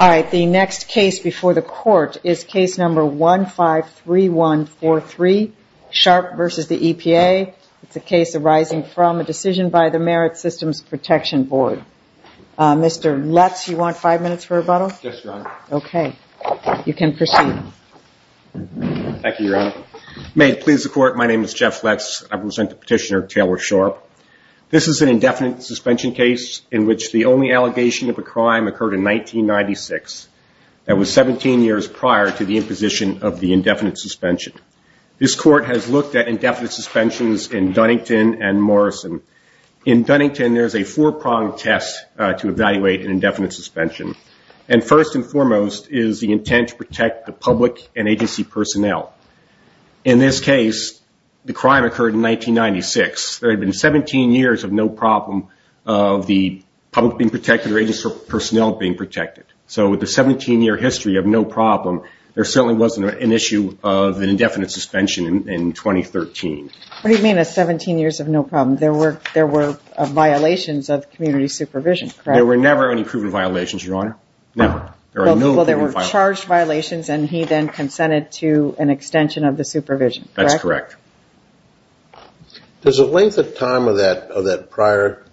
Alright, the next case before the court is case number 153143, Sharpe v. the EPA. It's a case arising from a case in the U.S. It's an indefinite suspension case in which the only allegation of a crime occurred in 1996. That was 17 years prior to the imposition of the indefinite suspension. This court has looked at indefinite suspensions in Dunnington and Morrison. In Dunnington, there is a four-pronged test to evaluate an indefinite suspension. First and foremost is the intent to protect the public and agency personnel. In this case, the crime occurred in 1996. There had been 17 years of no problem of the public being protected or agency personnel being protected. So with a 17-year history of no problem, there certainly wasn't an issue of an indefinite suspension in 2013. What do you mean a 17 years of no problem? There were violations of community supervision, correct? There were never any proven violations, Your Honor. Never. Well, there were charged violations and he then consented to an extension of the supervision, correct? That's correct. Does the length of time of that prior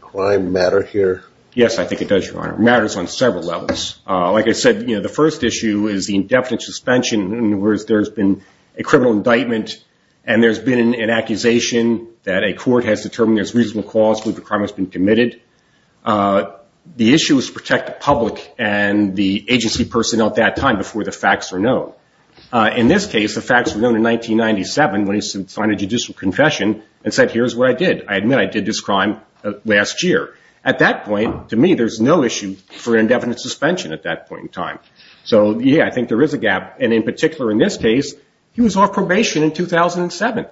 crime matter here? Yes, I think it does, Your Honor. It matters on several levels. Like I said, the first issue is the indefinite suspension in which there's been a criminal indictment and there's been an accusation that a court has determined there's reasonable cause for the crime that's been committed. The issue is to protect the public and the agency personnel at that time before the facts are known. In this case, the facts were known in 1997 when he signed a judicial confession and said, here's what I did. I admit I did this crime last year. At that point, to me, there's no issue for indefinite suspension at that point in time. So, yeah, I think there is a gap. And in particular in this case, he was on probation in 2007.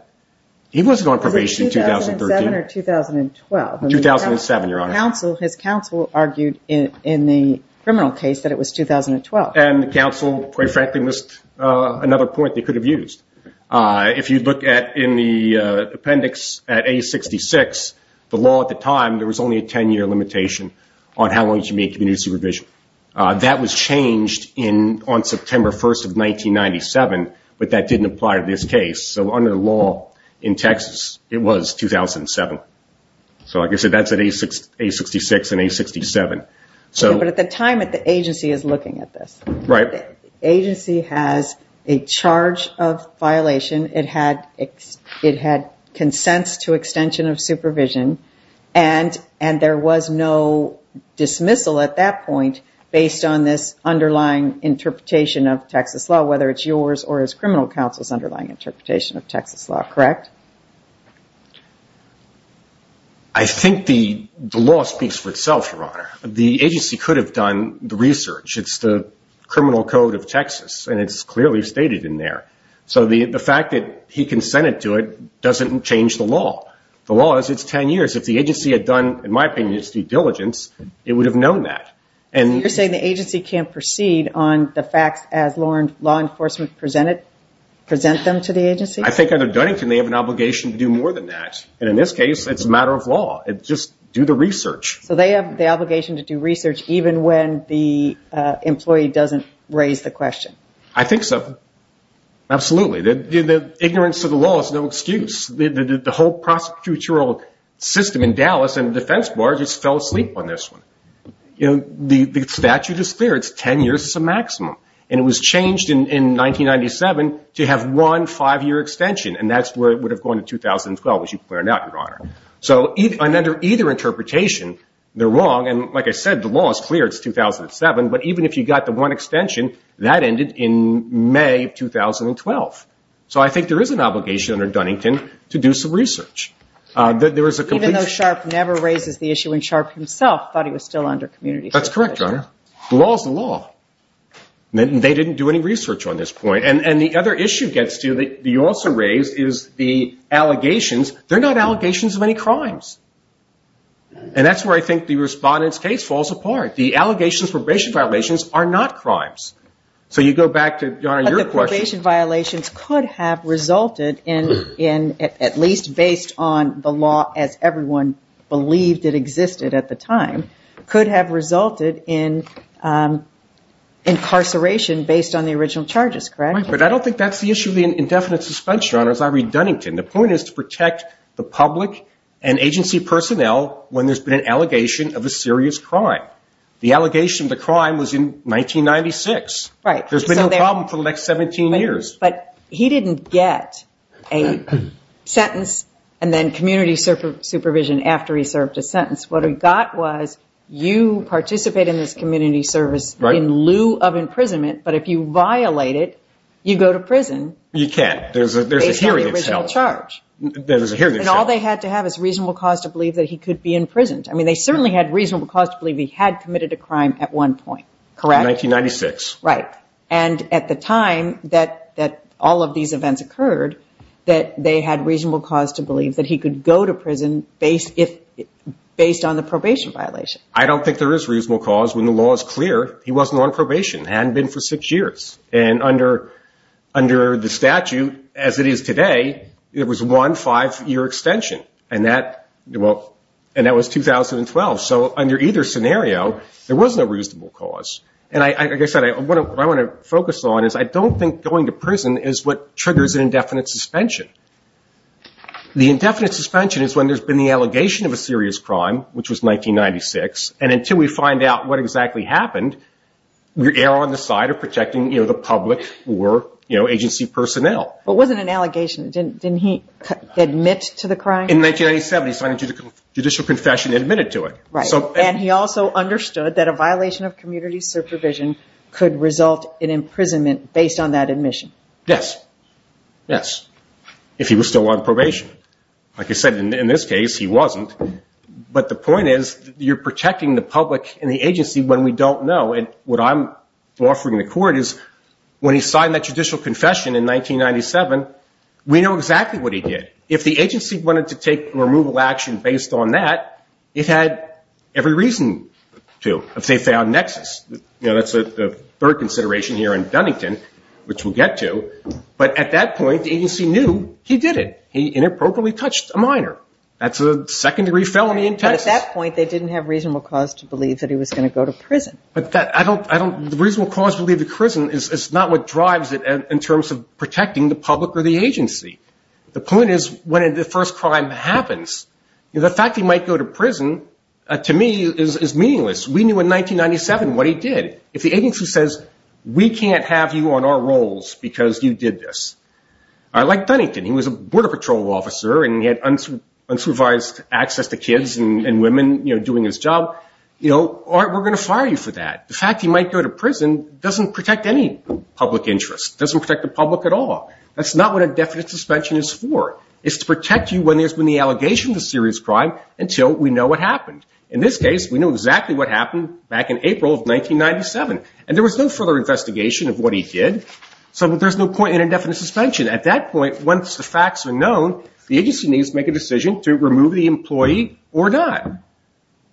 He wasn't on probation in 2013. Was it 2007 or 2012? 2007, Your Honor. His counsel argued in the criminal case that it was 2012. And the counsel, quite frankly, missed another point they could have used. If you look in the appendix at A66, the law at the time, there was only a 10-year limitation on how long you should be in community supervision. That was changed on September 1st of 1997, but that didn't apply to this case. So under the law in Texas, it was 2007. So, like I said, that's at A66 and A67. But at the time, the agency is looking at this. Right. The agency has a charge of violation. It had consents to extension of supervision. And there was no dismissal at that point based on this underlying interpretation of Texas law, whether it's yours or his criminal counsel's underlying interpretation of Texas law, correct? I think the law speaks for itself, Your Honor. The agency could have done the research. It's the criminal code of Texas, and it's clearly stated in there. So the fact that he consented to it doesn't change the law. The law is it's 10 years. If the agency had done, in my opinion, its due diligence, it would have known that. So you're saying the agency can't proceed on the facts as law enforcement present them to the agency? I think under Dunnington, they have an obligation to do more than that. And in this case, it's a matter of law. It's just do the research. So they have the obligation to do research even when the employee doesn't raise the question? I think so. Absolutely. The ignorance of the law is no excuse. The whole prosecutorial system in Dallas and the defense bar just fell asleep on this one. The statute is clear. It's 10 years is the maximum. And it was changed in 1997 to have one five-year extension, and that's where it would have gone in 2012, which you pointed out, Your Honor. So under either interpretation, they're wrong. And like I said, the law is clear. It's 2007. But even if you got the one extension, that ended in May of 2012. So I think there is an obligation under Dunnington to do some research. Even though Sharp never raises the issue, and Sharp himself thought he was still under community service. That's correct, Your Honor. The law is the law. They didn't do any research on this point. And the other issue gets to, that you also raised, is the allegations. They're not allegations of any crimes. And that's where I think the respondent's case falls apart. The allegations of probation violations are not crimes. So you go back to, Your Honor, your question. But the probation violations could have resulted in, at least based on the law as everyone believed it existed at the time, could have resulted in incarceration based on the original charges, correct? Right. But I don't think that's the issue of the indefinite suspension, Your Honor, as I read Dunnington. The point is to protect the public and agency personnel when there's been an allegation of a serious crime. The allegation of the crime was in 1996. Right. There's been no problem for the next 17 years. But he didn't get a sentence and then community supervision after he served his sentence. What he got was you participate in this community service in lieu of imprisonment, but if you violate it, you go to prison. You can't. There's a hearing itself. Based on the original charge. There's a hearing itself. And all they had to have is reasonable cause to believe that he could be imprisoned. I mean, they certainly had reasonable cause to believe he had committed a crime at one point, correct? In 1996. Right. And at the time that all of these events occurred, that they had reasonable cause to believe that he could go to prison based on the probation violation. I don't think there is reasonable cause when the law is clear he wasn't on probation. Hadn't been for six years. And under the statute as it is today, there was one five-year extension. And that was 2012. So under either scenario, there was no reasonable cause. And like I said, what I want to focus on is I don't think going to prison is what triggers an indefinite suspension. The indefinite suspension is when there's been the allegation of a serious crime, which was 1996, and until we find out what exactly happened, we're on the side of protecting the public or agency personnel. But it wasn't an allegation. Didn't he admit to the crime? In 1997, he signed a judicial confession and admitted to it. And he also understood that a violation of community supervision could result in imprisonment based on that admission. Yes. Yes. If he was still on probation. Like I said, in this case, he wasn't. But the point is you're protecting the public and the agency when we don't know. And what I'm offering the court is when he signed that judicial confession in 1997, we know exactly what he did. If the agency wanted to take removal action based on that, it had every reason to if they found nexus. You know, that's the third consideration here in Dunnington, which we'll get to. But at that point, the agency knew he did it. He inappropriately touched a minor. That's a second-degree felony in Texas. But at that point, they didn't have reasonable cause to believe that he was going to go to prison. But the reasonable cause to believe to prison is not what drives it in terms of protecting the public or the agency. The point is when the first crime happens, the fact he might go to prison, to me, is meaningless. We knew in 1997 what he did. If the agency says we can't have you on our rolls because you did this, like Dunnington, he was a border patrol officer and he had unsupervised access to kids and women doing his job, you know, we're going to fire you for that. The fact he might go to prison doesn't protect any public interest. It doesn't protect the public at all. That's not what indefinite suspension is for. It's to protect you when there's been the allegation of a serious crime until we know what happened. In this case, we know exactly what happened back in April of 1997. And there was no further investigation of what he did, so there's no point in indefinite suspension. At that point, once the facts are known, the agency needs to make a decision to remove the employee or not.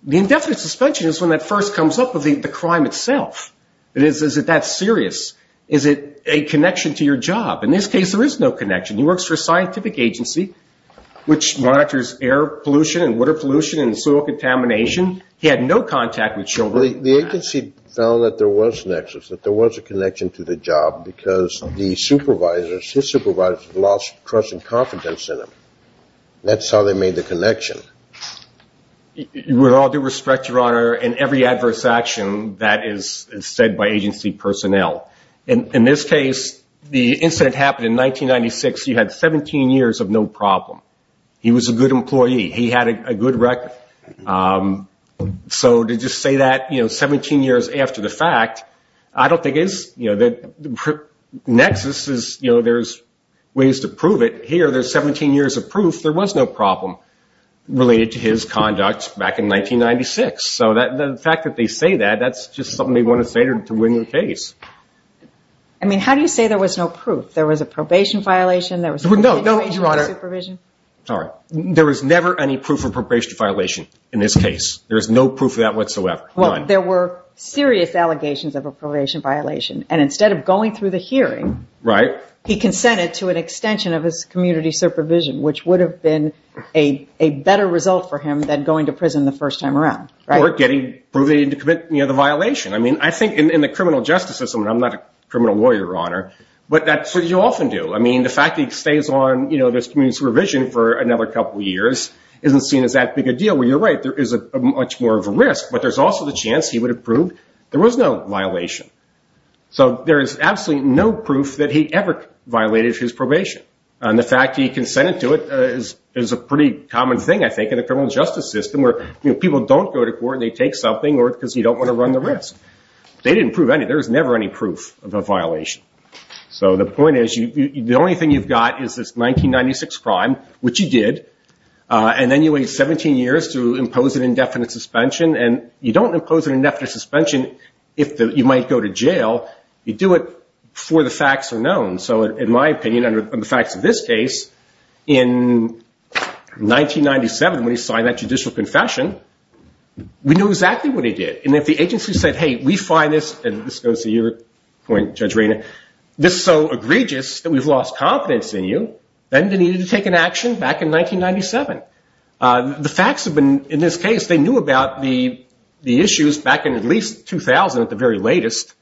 The indefinite suspension is when that first comes up of the crime itself. Is it that serious? Is it a connection to your job? In this case, there is no connection. He works for a scientific agency which monitors air pollution and water pollution and soil contamination. He had no contact with children. The agency found that there was an access, that there was a connection to the job because the supervisors, his supervisors lost trust and confidence in him. That's how they made the connection. With all due respect, Your Honor, in every adverse action, that is said by agency personnel. In this case, the incident happened in 1996. You had 17 years of no problem. He was a good employee. He had a good record. So to just say that, you know, 17 years after the fact, I don't think it's, you know, the nexus is, you know, there's ways to prove it. Here, there's 17 years of proof there was no problem related to his conduct back in 1996. So the fact that they say that, that's just something they want to say to win the case. I mean, how do you say there was no proof? There was a probation violation? There was a continuation of the supervision? No, Your Honor. Sorry. There was never any proof of probation violation in this case. There is no proof of that whatsoever. None. Well, there were serious allegations of a probation violation. And instead of going through the hearing, he consented to an extension of his community supervision, which would have been a better result for him than going to prison the first time around, right? Or getting, proving to commit, you know, the violation. I mean, I think in the criminal justice system, and I'm not a criminal lawyer, Your Honor, but that's what you often do. I mean, the fact that he stays on, you know, this community supervision for another couple years isn't seen as that big a deal. Well, you're right. There is much more of a risk, but there's also the chance he would have proved there was no violation. So there is absolutely no proof that he ever violated his probation. And the fact that he consented to it is a pretty common thing, I think, in the criminal justice system, where people don't go to court and they take something because you don't want to run the risk. They didn't prove any. There was never any proof of a violation. So the point is, the only thing you've got is this 1996 crime, which you did, and then you wait 17 years to impose an indefinite suspension. And you don't impose an indefinite suspension if you might go to jail. You do it before the facts are known. So in my opinion, under the facts of this case, in 1997, when he signed that judicial confession, we knew exactly what he did. And if the agency said, hey, we find this, and this goes to your point, Judge Rayner, this is so egregious that we've lost confidence in you, then they needed to take an action back in 1997. The facts have been, in this case, they knew about the issues back in at least 2000 at the very latest.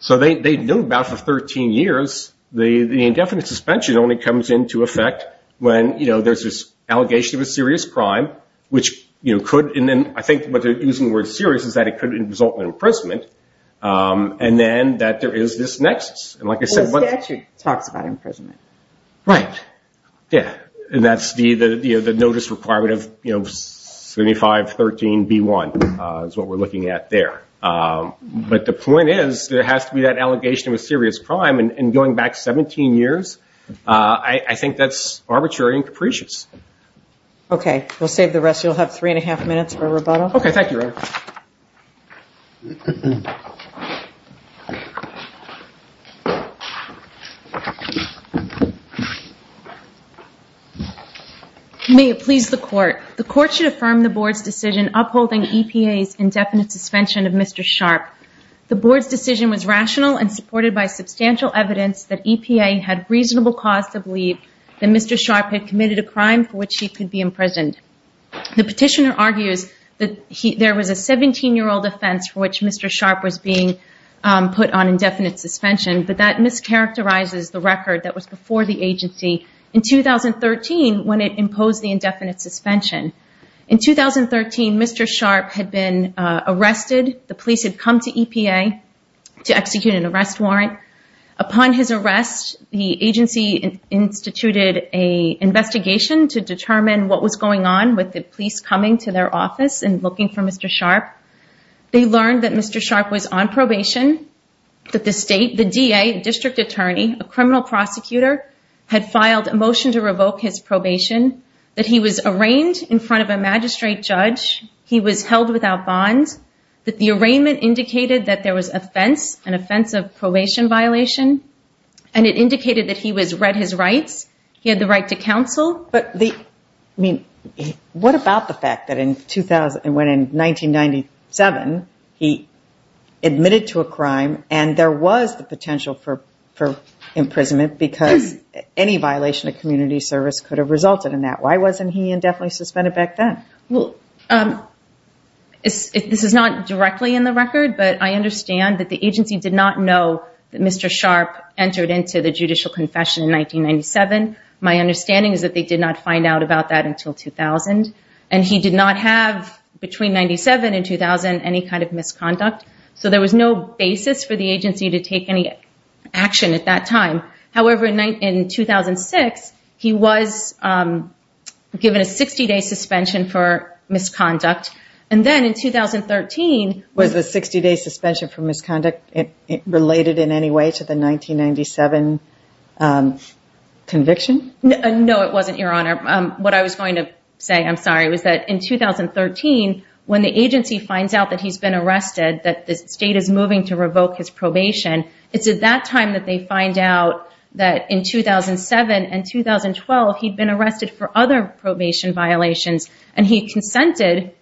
So they knew about it for 13 years. The indefinite suspension only comes into effect when there's this allegation of a serious crime, which I think what they're using the word serious is that it could result in imprisonment, and then that there is this nexus. The statute talks about imprisonment. Right. Yeah. And that's the notice requirement of 7513B1 is what we're looking at there. But the point is there has to be that allegation of a serious crime. And going back 17 years, I think that's arbitrary and capricious. Okay. We'll save the rest. You'll have three and a half minutes for rebuttal. Okay. Thank you. May it please the Court. The Court should affirm the Board's decision upholding EPA's indefinite suspension of Mr. Sharpe. The Board's decision was rational and supported by substantial evidence that EPA had reasonable cause to believe that Mr. Sharpe had committed a crime for which he could be imprisoned. The petitioner argues that there was a 17-year-old offense for which Mr. Sharpe was being put on indefinite suspension, but that mischaracterizes the record that was before the agency in 2013 when it imposed the indefinite suspension. In 2013, Mr. Sharpe had been arrested. The police had come to EPA to execute an arrest warrant. Upon his arrest, the agency instituted an investigation to determine what was going on with the police coming to their office and looking for Mr. Sharpe. They learned that Mr. Sharpe was on probation, that the state, the DA, district attorney, a criminal prosecutor, had filed a motion to revoke his probation, that he was arraigned in front of a magistrate judge, he was held without bond, that the arraignment indicated that there was an offense of probation violation, and it indicated that he had read his rights, he had the right to counsel. What about the fact that in 1997, he admitted to a crime, and there was the potential for imprisonment because any violation of community service could have resulted in that? Why wasn't he indefinitely suspended back then? This is not directly in the record, but I understand that the agency did not know that Mr. Sharpe entered into the judicial confession in 1997. My understanding is that they did not find out about that until 2000. And he did not have, between 1997 and 2000, any kind of misconduct. So there was no basis for the agency to take any action at that time. However, in 2006, he was given a 60-day suspension for misconduct. And then in 2013... Was the 60-day suspension for misconduct related in any way to the 1997 conviction? No, it wasn't, Your Honor. What I was going to say, I'm sorry, was that in 2013, when the agency finds out that he's been arrested, that the state is moving to revoke his probation, it's at that time that they find out that in 2007 and 2012, he'd been arrested for other probation violations, and he consented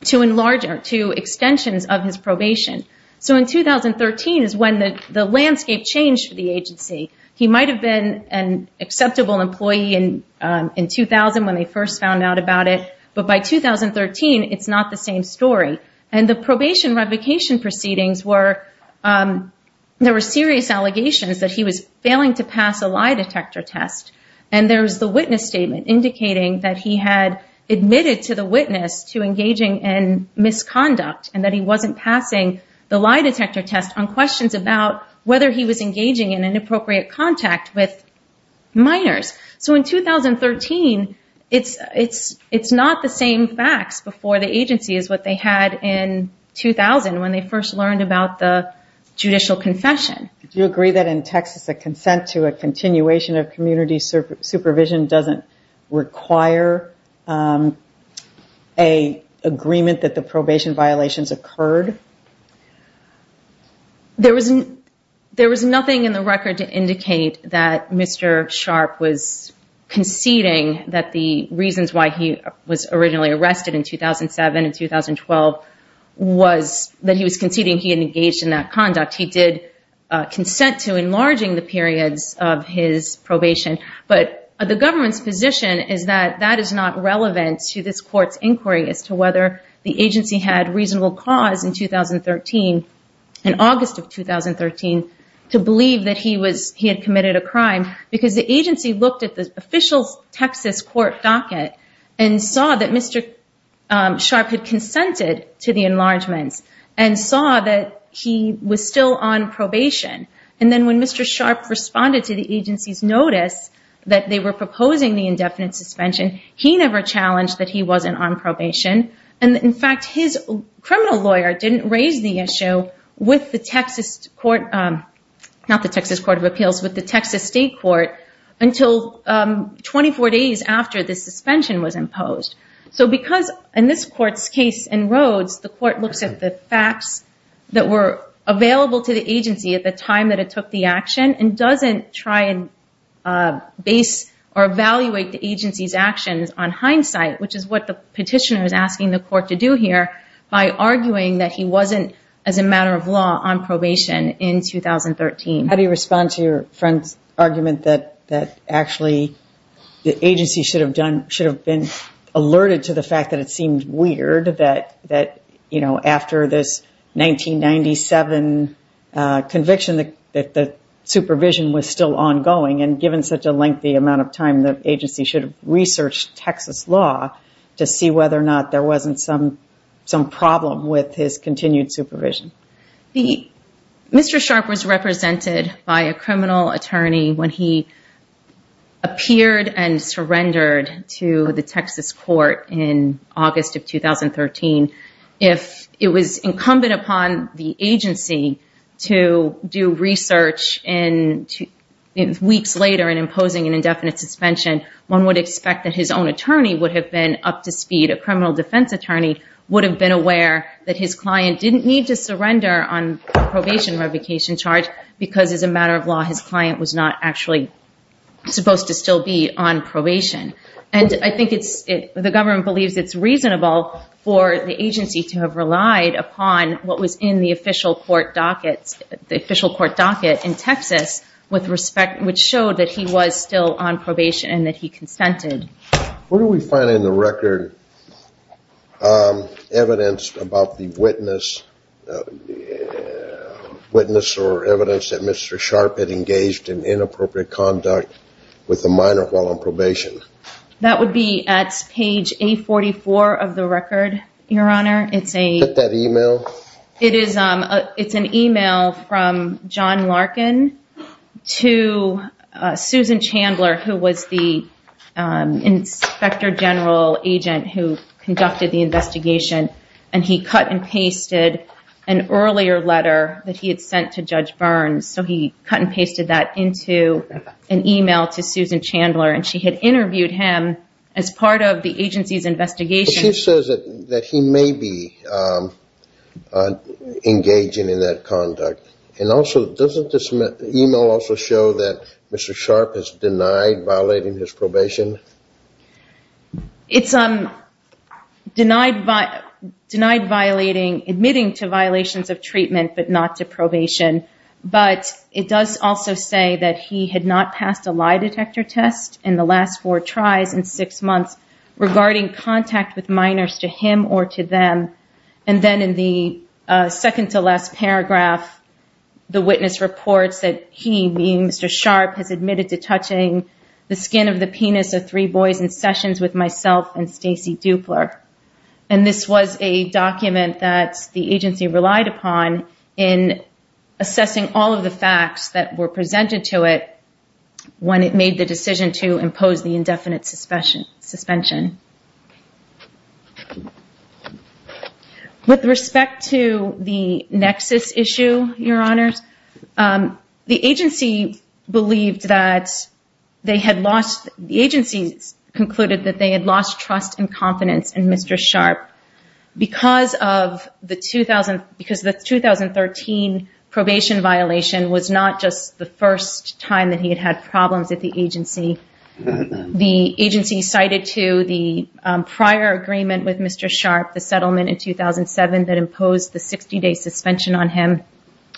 to extensions of his probation. So in 2013 is when the landscape changed for the agency. He might have been an acceptable employee in 2000 when they first found out about it, but by 2013, it's not the same story. And the probation revocation proceedings were... There were serious allegations that he was failing to pass a lie detector test. And there was the witness statement indicating that he had admitted to the witness to engaging in misconduct and that he wasn't passing the lie detector test on questions about whether he was engaging in inappropriate contact with minors. So in 2013, it's not the same facts before the agency as what they had in 2000 when they first learned about the judicial confession. Do you agree that in Texas, a consent to a continuation of community supervision doesn't require an agreement that the probation violations occurred? There was nothing in the record to indicate that Mr. Sharp was conceding that the reasons why he was originally arrested in 2007 and 2012 was that he was conceding he had engaged in that conduct. He did consent to enlarging the periods of his probation. But the government's position is that that is not relevant to this court's inquiry as to whether the agency had reasonable cause in August of 2013 to believe that he had committed a crime because the agency looked at the official Texas court docket and saw that Mr. Sharp had consented to the enlargements and saw that he was still on probation. And then when Mr. Sharp responded to the agency's notice that they were proposing the indefinite suspension, he never challenged that he wasn't on probation. And in fact, his criminal lawyer didn't raise the issue with the Texas Court of Appeals, with the Texas State Court until 24 days after the suspension was imposed. So because in this court's case in Rhodes, the court looks at the facts that were available to the agency at the time that it took the action and doesn't try and base or evaluate the agency's actions on hindsight, which is what the petitioner is asking the court to do here, by arguing that he wasn't, as a matter of law, on probation in 2013. How do you respond to your friend's argument that actually the agency should have been alerted to the fact that it seemed weird that after this 1997 conviction that the supervision was still ongoing, and given such a lengthy amount of time, the agency should have researched Texas law to see whether or not there wasn't some problem with his continued supervision? Mr. Sharpe was represented by a criminal attorney when he appeared and surrendered to the Texas court in August of 2013. If it was incumbent upon the agency to do research weeks later in imposing an indefinite suspension, one would expect that his own attorney would have been up to speed. A criminal defense attorney would have been aware that his client didn't need to surrender on a probation revocation charge because, as a matter of law, his client was not actually supposed to still be on probation. I think the government believes it's reasonable for the agency to have relied upon what was in the official court docket in Texas, which showed that he was still on probation and that he consented. Where do we find in the record evidence about the witness or evidence that Mr. Sharpe had engaged in inappropriate conduct with a minor while on probation? That would be at page 844 of the record, Your Honor. Is that email? It's an email from John Larkin to Susan Chandler, who was the inspector general agent who conducted the investigation, and he cut and pasted an earlier letter that he had sent to Judge Burns. He cut and pasted that into an email to Susan Chandler, and she had interviewed him as part of the agency's investigation. But she says that he may be engaging in that conduct. And also, doesn't this email also show that Mr. Sharpe is denied violating his probation? It's denied admitting to violations of treatment but not to probation, but it does also say that he had not passed a lie detector test in the last four tries in six months regarding contact with minors to him or to them. And then in the second-to-last paragraph, the witness reports that he, being Mr. Sharpe, has admitted to touching the skin of the penis of three boys in sessions with myself and Stacy Dupler. And this was a document that the agency relied upon in assessing all of the facts that were presented to it when it made the decision to impose the indefinite suspension. With respect to the Nexus issue, Your Honors, the agency concluded that they had lost trust and confidence in Mr. Sharpe because the 2013 probation violation was not just the first time that he had had problems at the agency. The agency cited to the prior agreement with Mr. Sharpe, the settlement in 2007 that imposed the 60-day suspension on him,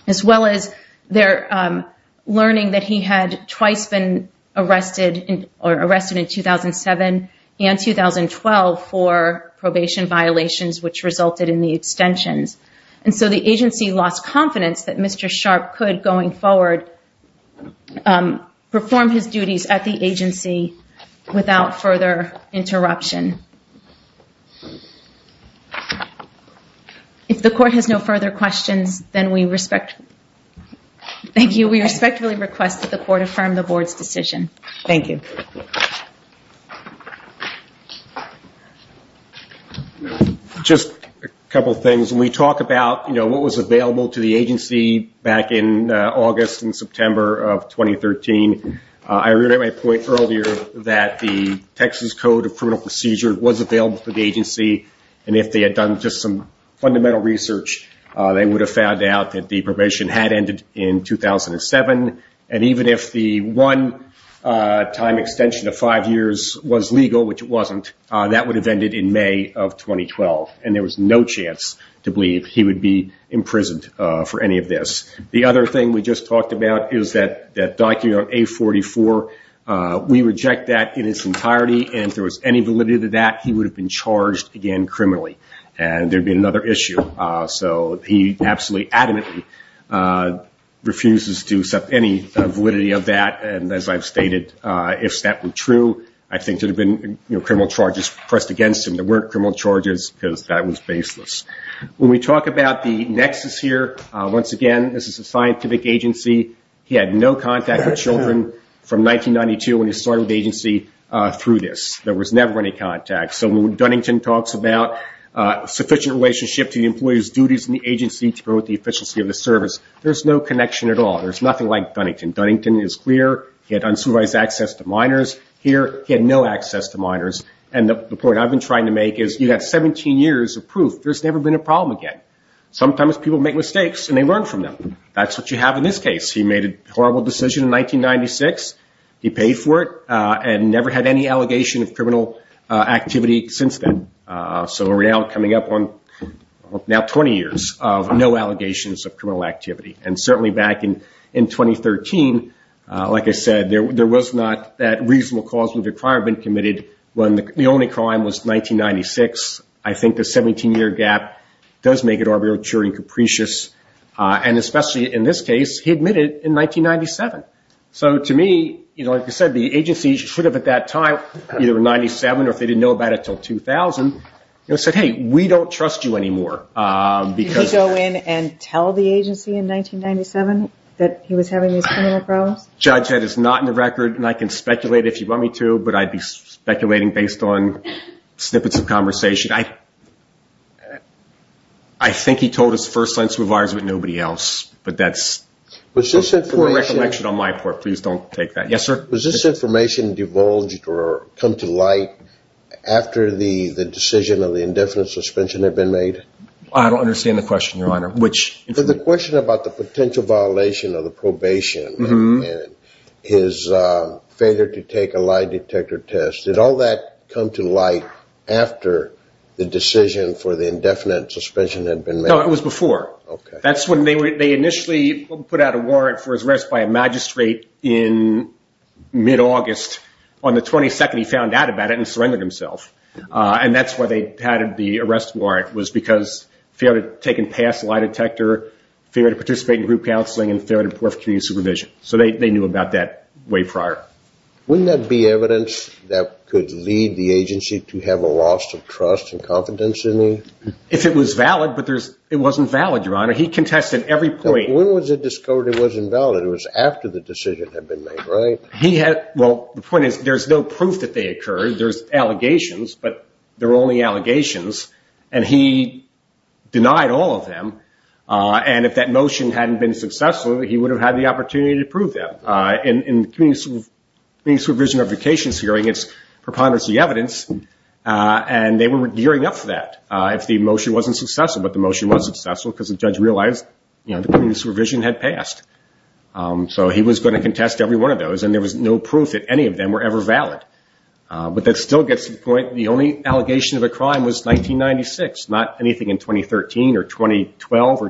as well as their learning that he had twice been arrested in 2007 and 2012 for probation violations which resulted in the extensions. And so the agency lost confidence that Mr. Sharpe could, going forward, perform his duties at the agency without further interruption. If the Court has no further questions, then we respectfully request that the Court affirm the Board's decision. Thank you. Just a couple of things. When we talk about what was available to the agency back in August and September of 2013, I reiterate my point earlier that the Texas Code of Criminal Procedures was available to the agency. And if they had done just some fundamental research, they would have found out that the probation had ended in 2007. And even if the one-time extension of five years was legal, which it wasn't, that would have ended in May of 2012. And there was no chance to believe he would be imprisoned for any of this. The other thing we just talked about is that document on A44. We reject that in its entirety. And if there was any validity to that, he would have been charged again criminally. And there would be another issue. So he absolutely, adamantly refuses to accept any validity of that. And as I've stated, if that were true, I think there would have been criminal charges pressed against him. There weren't criminal charges because that was baseless. When we talk about the nexus here, once again, this is a scientific agency. He had no contact with children from 1992 when he started with the agency through this. There was never any contact. So when Dunnington talks about sufficient relationship to the employee's duties in the agency to promote the efficiency of the service, there's no connection at all. There's nothing like Dunnington. Dunnington is clear. He had unsupervised access to minors. Here, he had no access to minors. And the point I've been trying to make is you have 17 years of proof. There's never been a problem again. Sometimes people make mistakes and they learn from them. That's what you have in this case. He made a horrible decision in 1996. He paid for it and never had any allegation of criminal activity since then. So we're now coming up on now 20 years of no allegations of criminal activity. And certainly back in 2013, like I said, there was not that reasonable cause of requirement committed when the only crime was 1996. I think the 17-year gap does make it arbitrary and capricious. And especially in this case, he admitted it in 1997. So to me, like I said, the agency should have at that time, either in 1997 or if they didn't know about it until 2000, said, hey, we don't trust you anymore. Did he go in and tell the agency in 1997 that he was having these criminal problems? Judge, that is not in the record and I can speculate if you want me to, but I'd be speculating based on snippets of conversation. I think he told his first line supervisor, but nobody else. But that's for recollection on my part. Please don't take that. Yes, sir. Was this information divulged or come to light after the decision of the indefinite suspension had been made? I don't understand the question, Your Honor. The question about the potential violation of the probation and his failure to take a lie detector test. Did all that come to light after the decision for the indefinite suspension had been made? No, it was before. That's when they initially put out a warrant for his arrest by a magistrate in mid-August. On the 22nd, he found out about it and surrendered himself. And that's why they had the arrest warrant, was because he failed to take a lie detector test, failed to participate in group counseling, and failed to perform community supervision. So they knew about that way prior. Wouldn't that be evidence that could lead the agency to have a loss of trust and confidence in you? If it was valid, but it wasn't valid, Your Honor. He contested every point. When was it discovered it wasn't valid? It was after the decision had been made, right? Well, the point is, there's no proof that they occurred. There's allegations, but they're only allegations. And he denied all of them. And if that motion hadn't been successful, he would have had the opportunity to prove them. In the community supervision of vacations hearing, it's preponderance of the evidence, and they were gearing up for that. If the motion wasn't successful, but the motion was successful because the judge realized the community supervision had passed. So he was going to contest every one of those, and there was no proof that any of them were ever valid. But that still gets to the point, the only allegation of a crime was 1996, not anything in 2013 or 2012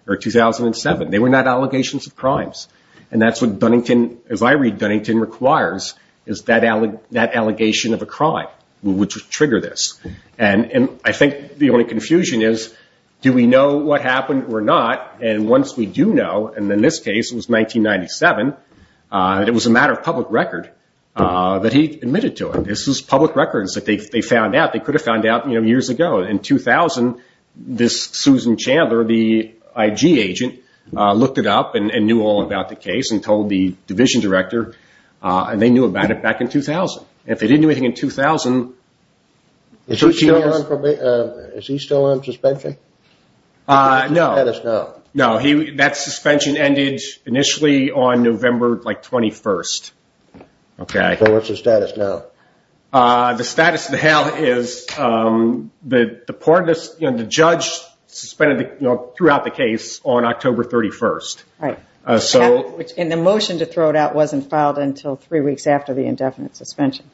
or 2007. They were not allegations of crimes. And that's what Dunnington, as I read Dunnington, requires, is that allegation of a crime, which would trigger this. And I think the only confusion is, do we know what happened or not? And once we do know, and in this case it was 1997, it was a matter of public record that he admitted to it. This was public records that they found out, they could have found out years ago. In 2000, this Susan Chandler, the IG agent, looked it up and knew all about the case and told the division director. And they knew about it back in 2000. If they didn't do anything in 2000... Is he still on suspension? No, that suspension ended initially on November 21st. So what's the status now? The status of the hell is, the judge suspended throughout the case on October 31st. And the motion to throw it out wasn't filed until three weeks after the indefinite suspension.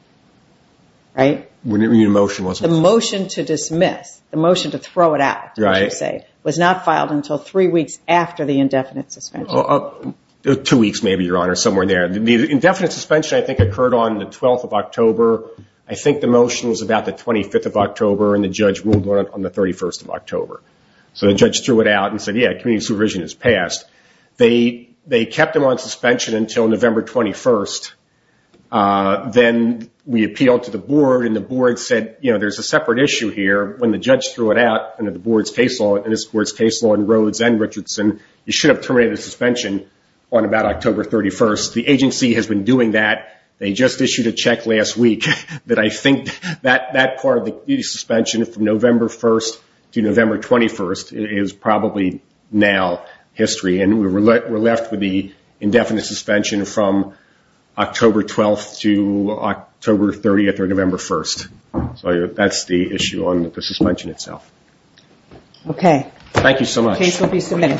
The motion to dismiss, the motion to throw it out, was not filed until three weeks after the indefinite suspension. Two weeks, maybe, Your Honor, somewhere there. The indefinite suspension, I think, occurred on the 12th of October. I think the motion was about the 25th of October, and the judge ruled on the 31st of October. So the judge threw it out and said, yeah, community supervision is passed. They kept him on suspension until November 21st. Then we appealed to the board, and the board said, you know, there's a separate issue here. When the judge threw it out under this board's case law in Rhodes and Richardson, you should have terminated the suspension on about October 31st. The agency has been doing that. They just issued a check last week that I think that part of the suspension from November 1st to November 21st is probably now history. And we're left with the indefinite suspension from October 12th to October 30th or November 1st. So that's the issue on the suspension itself. Okay. Thank you so much. The case will be submitted.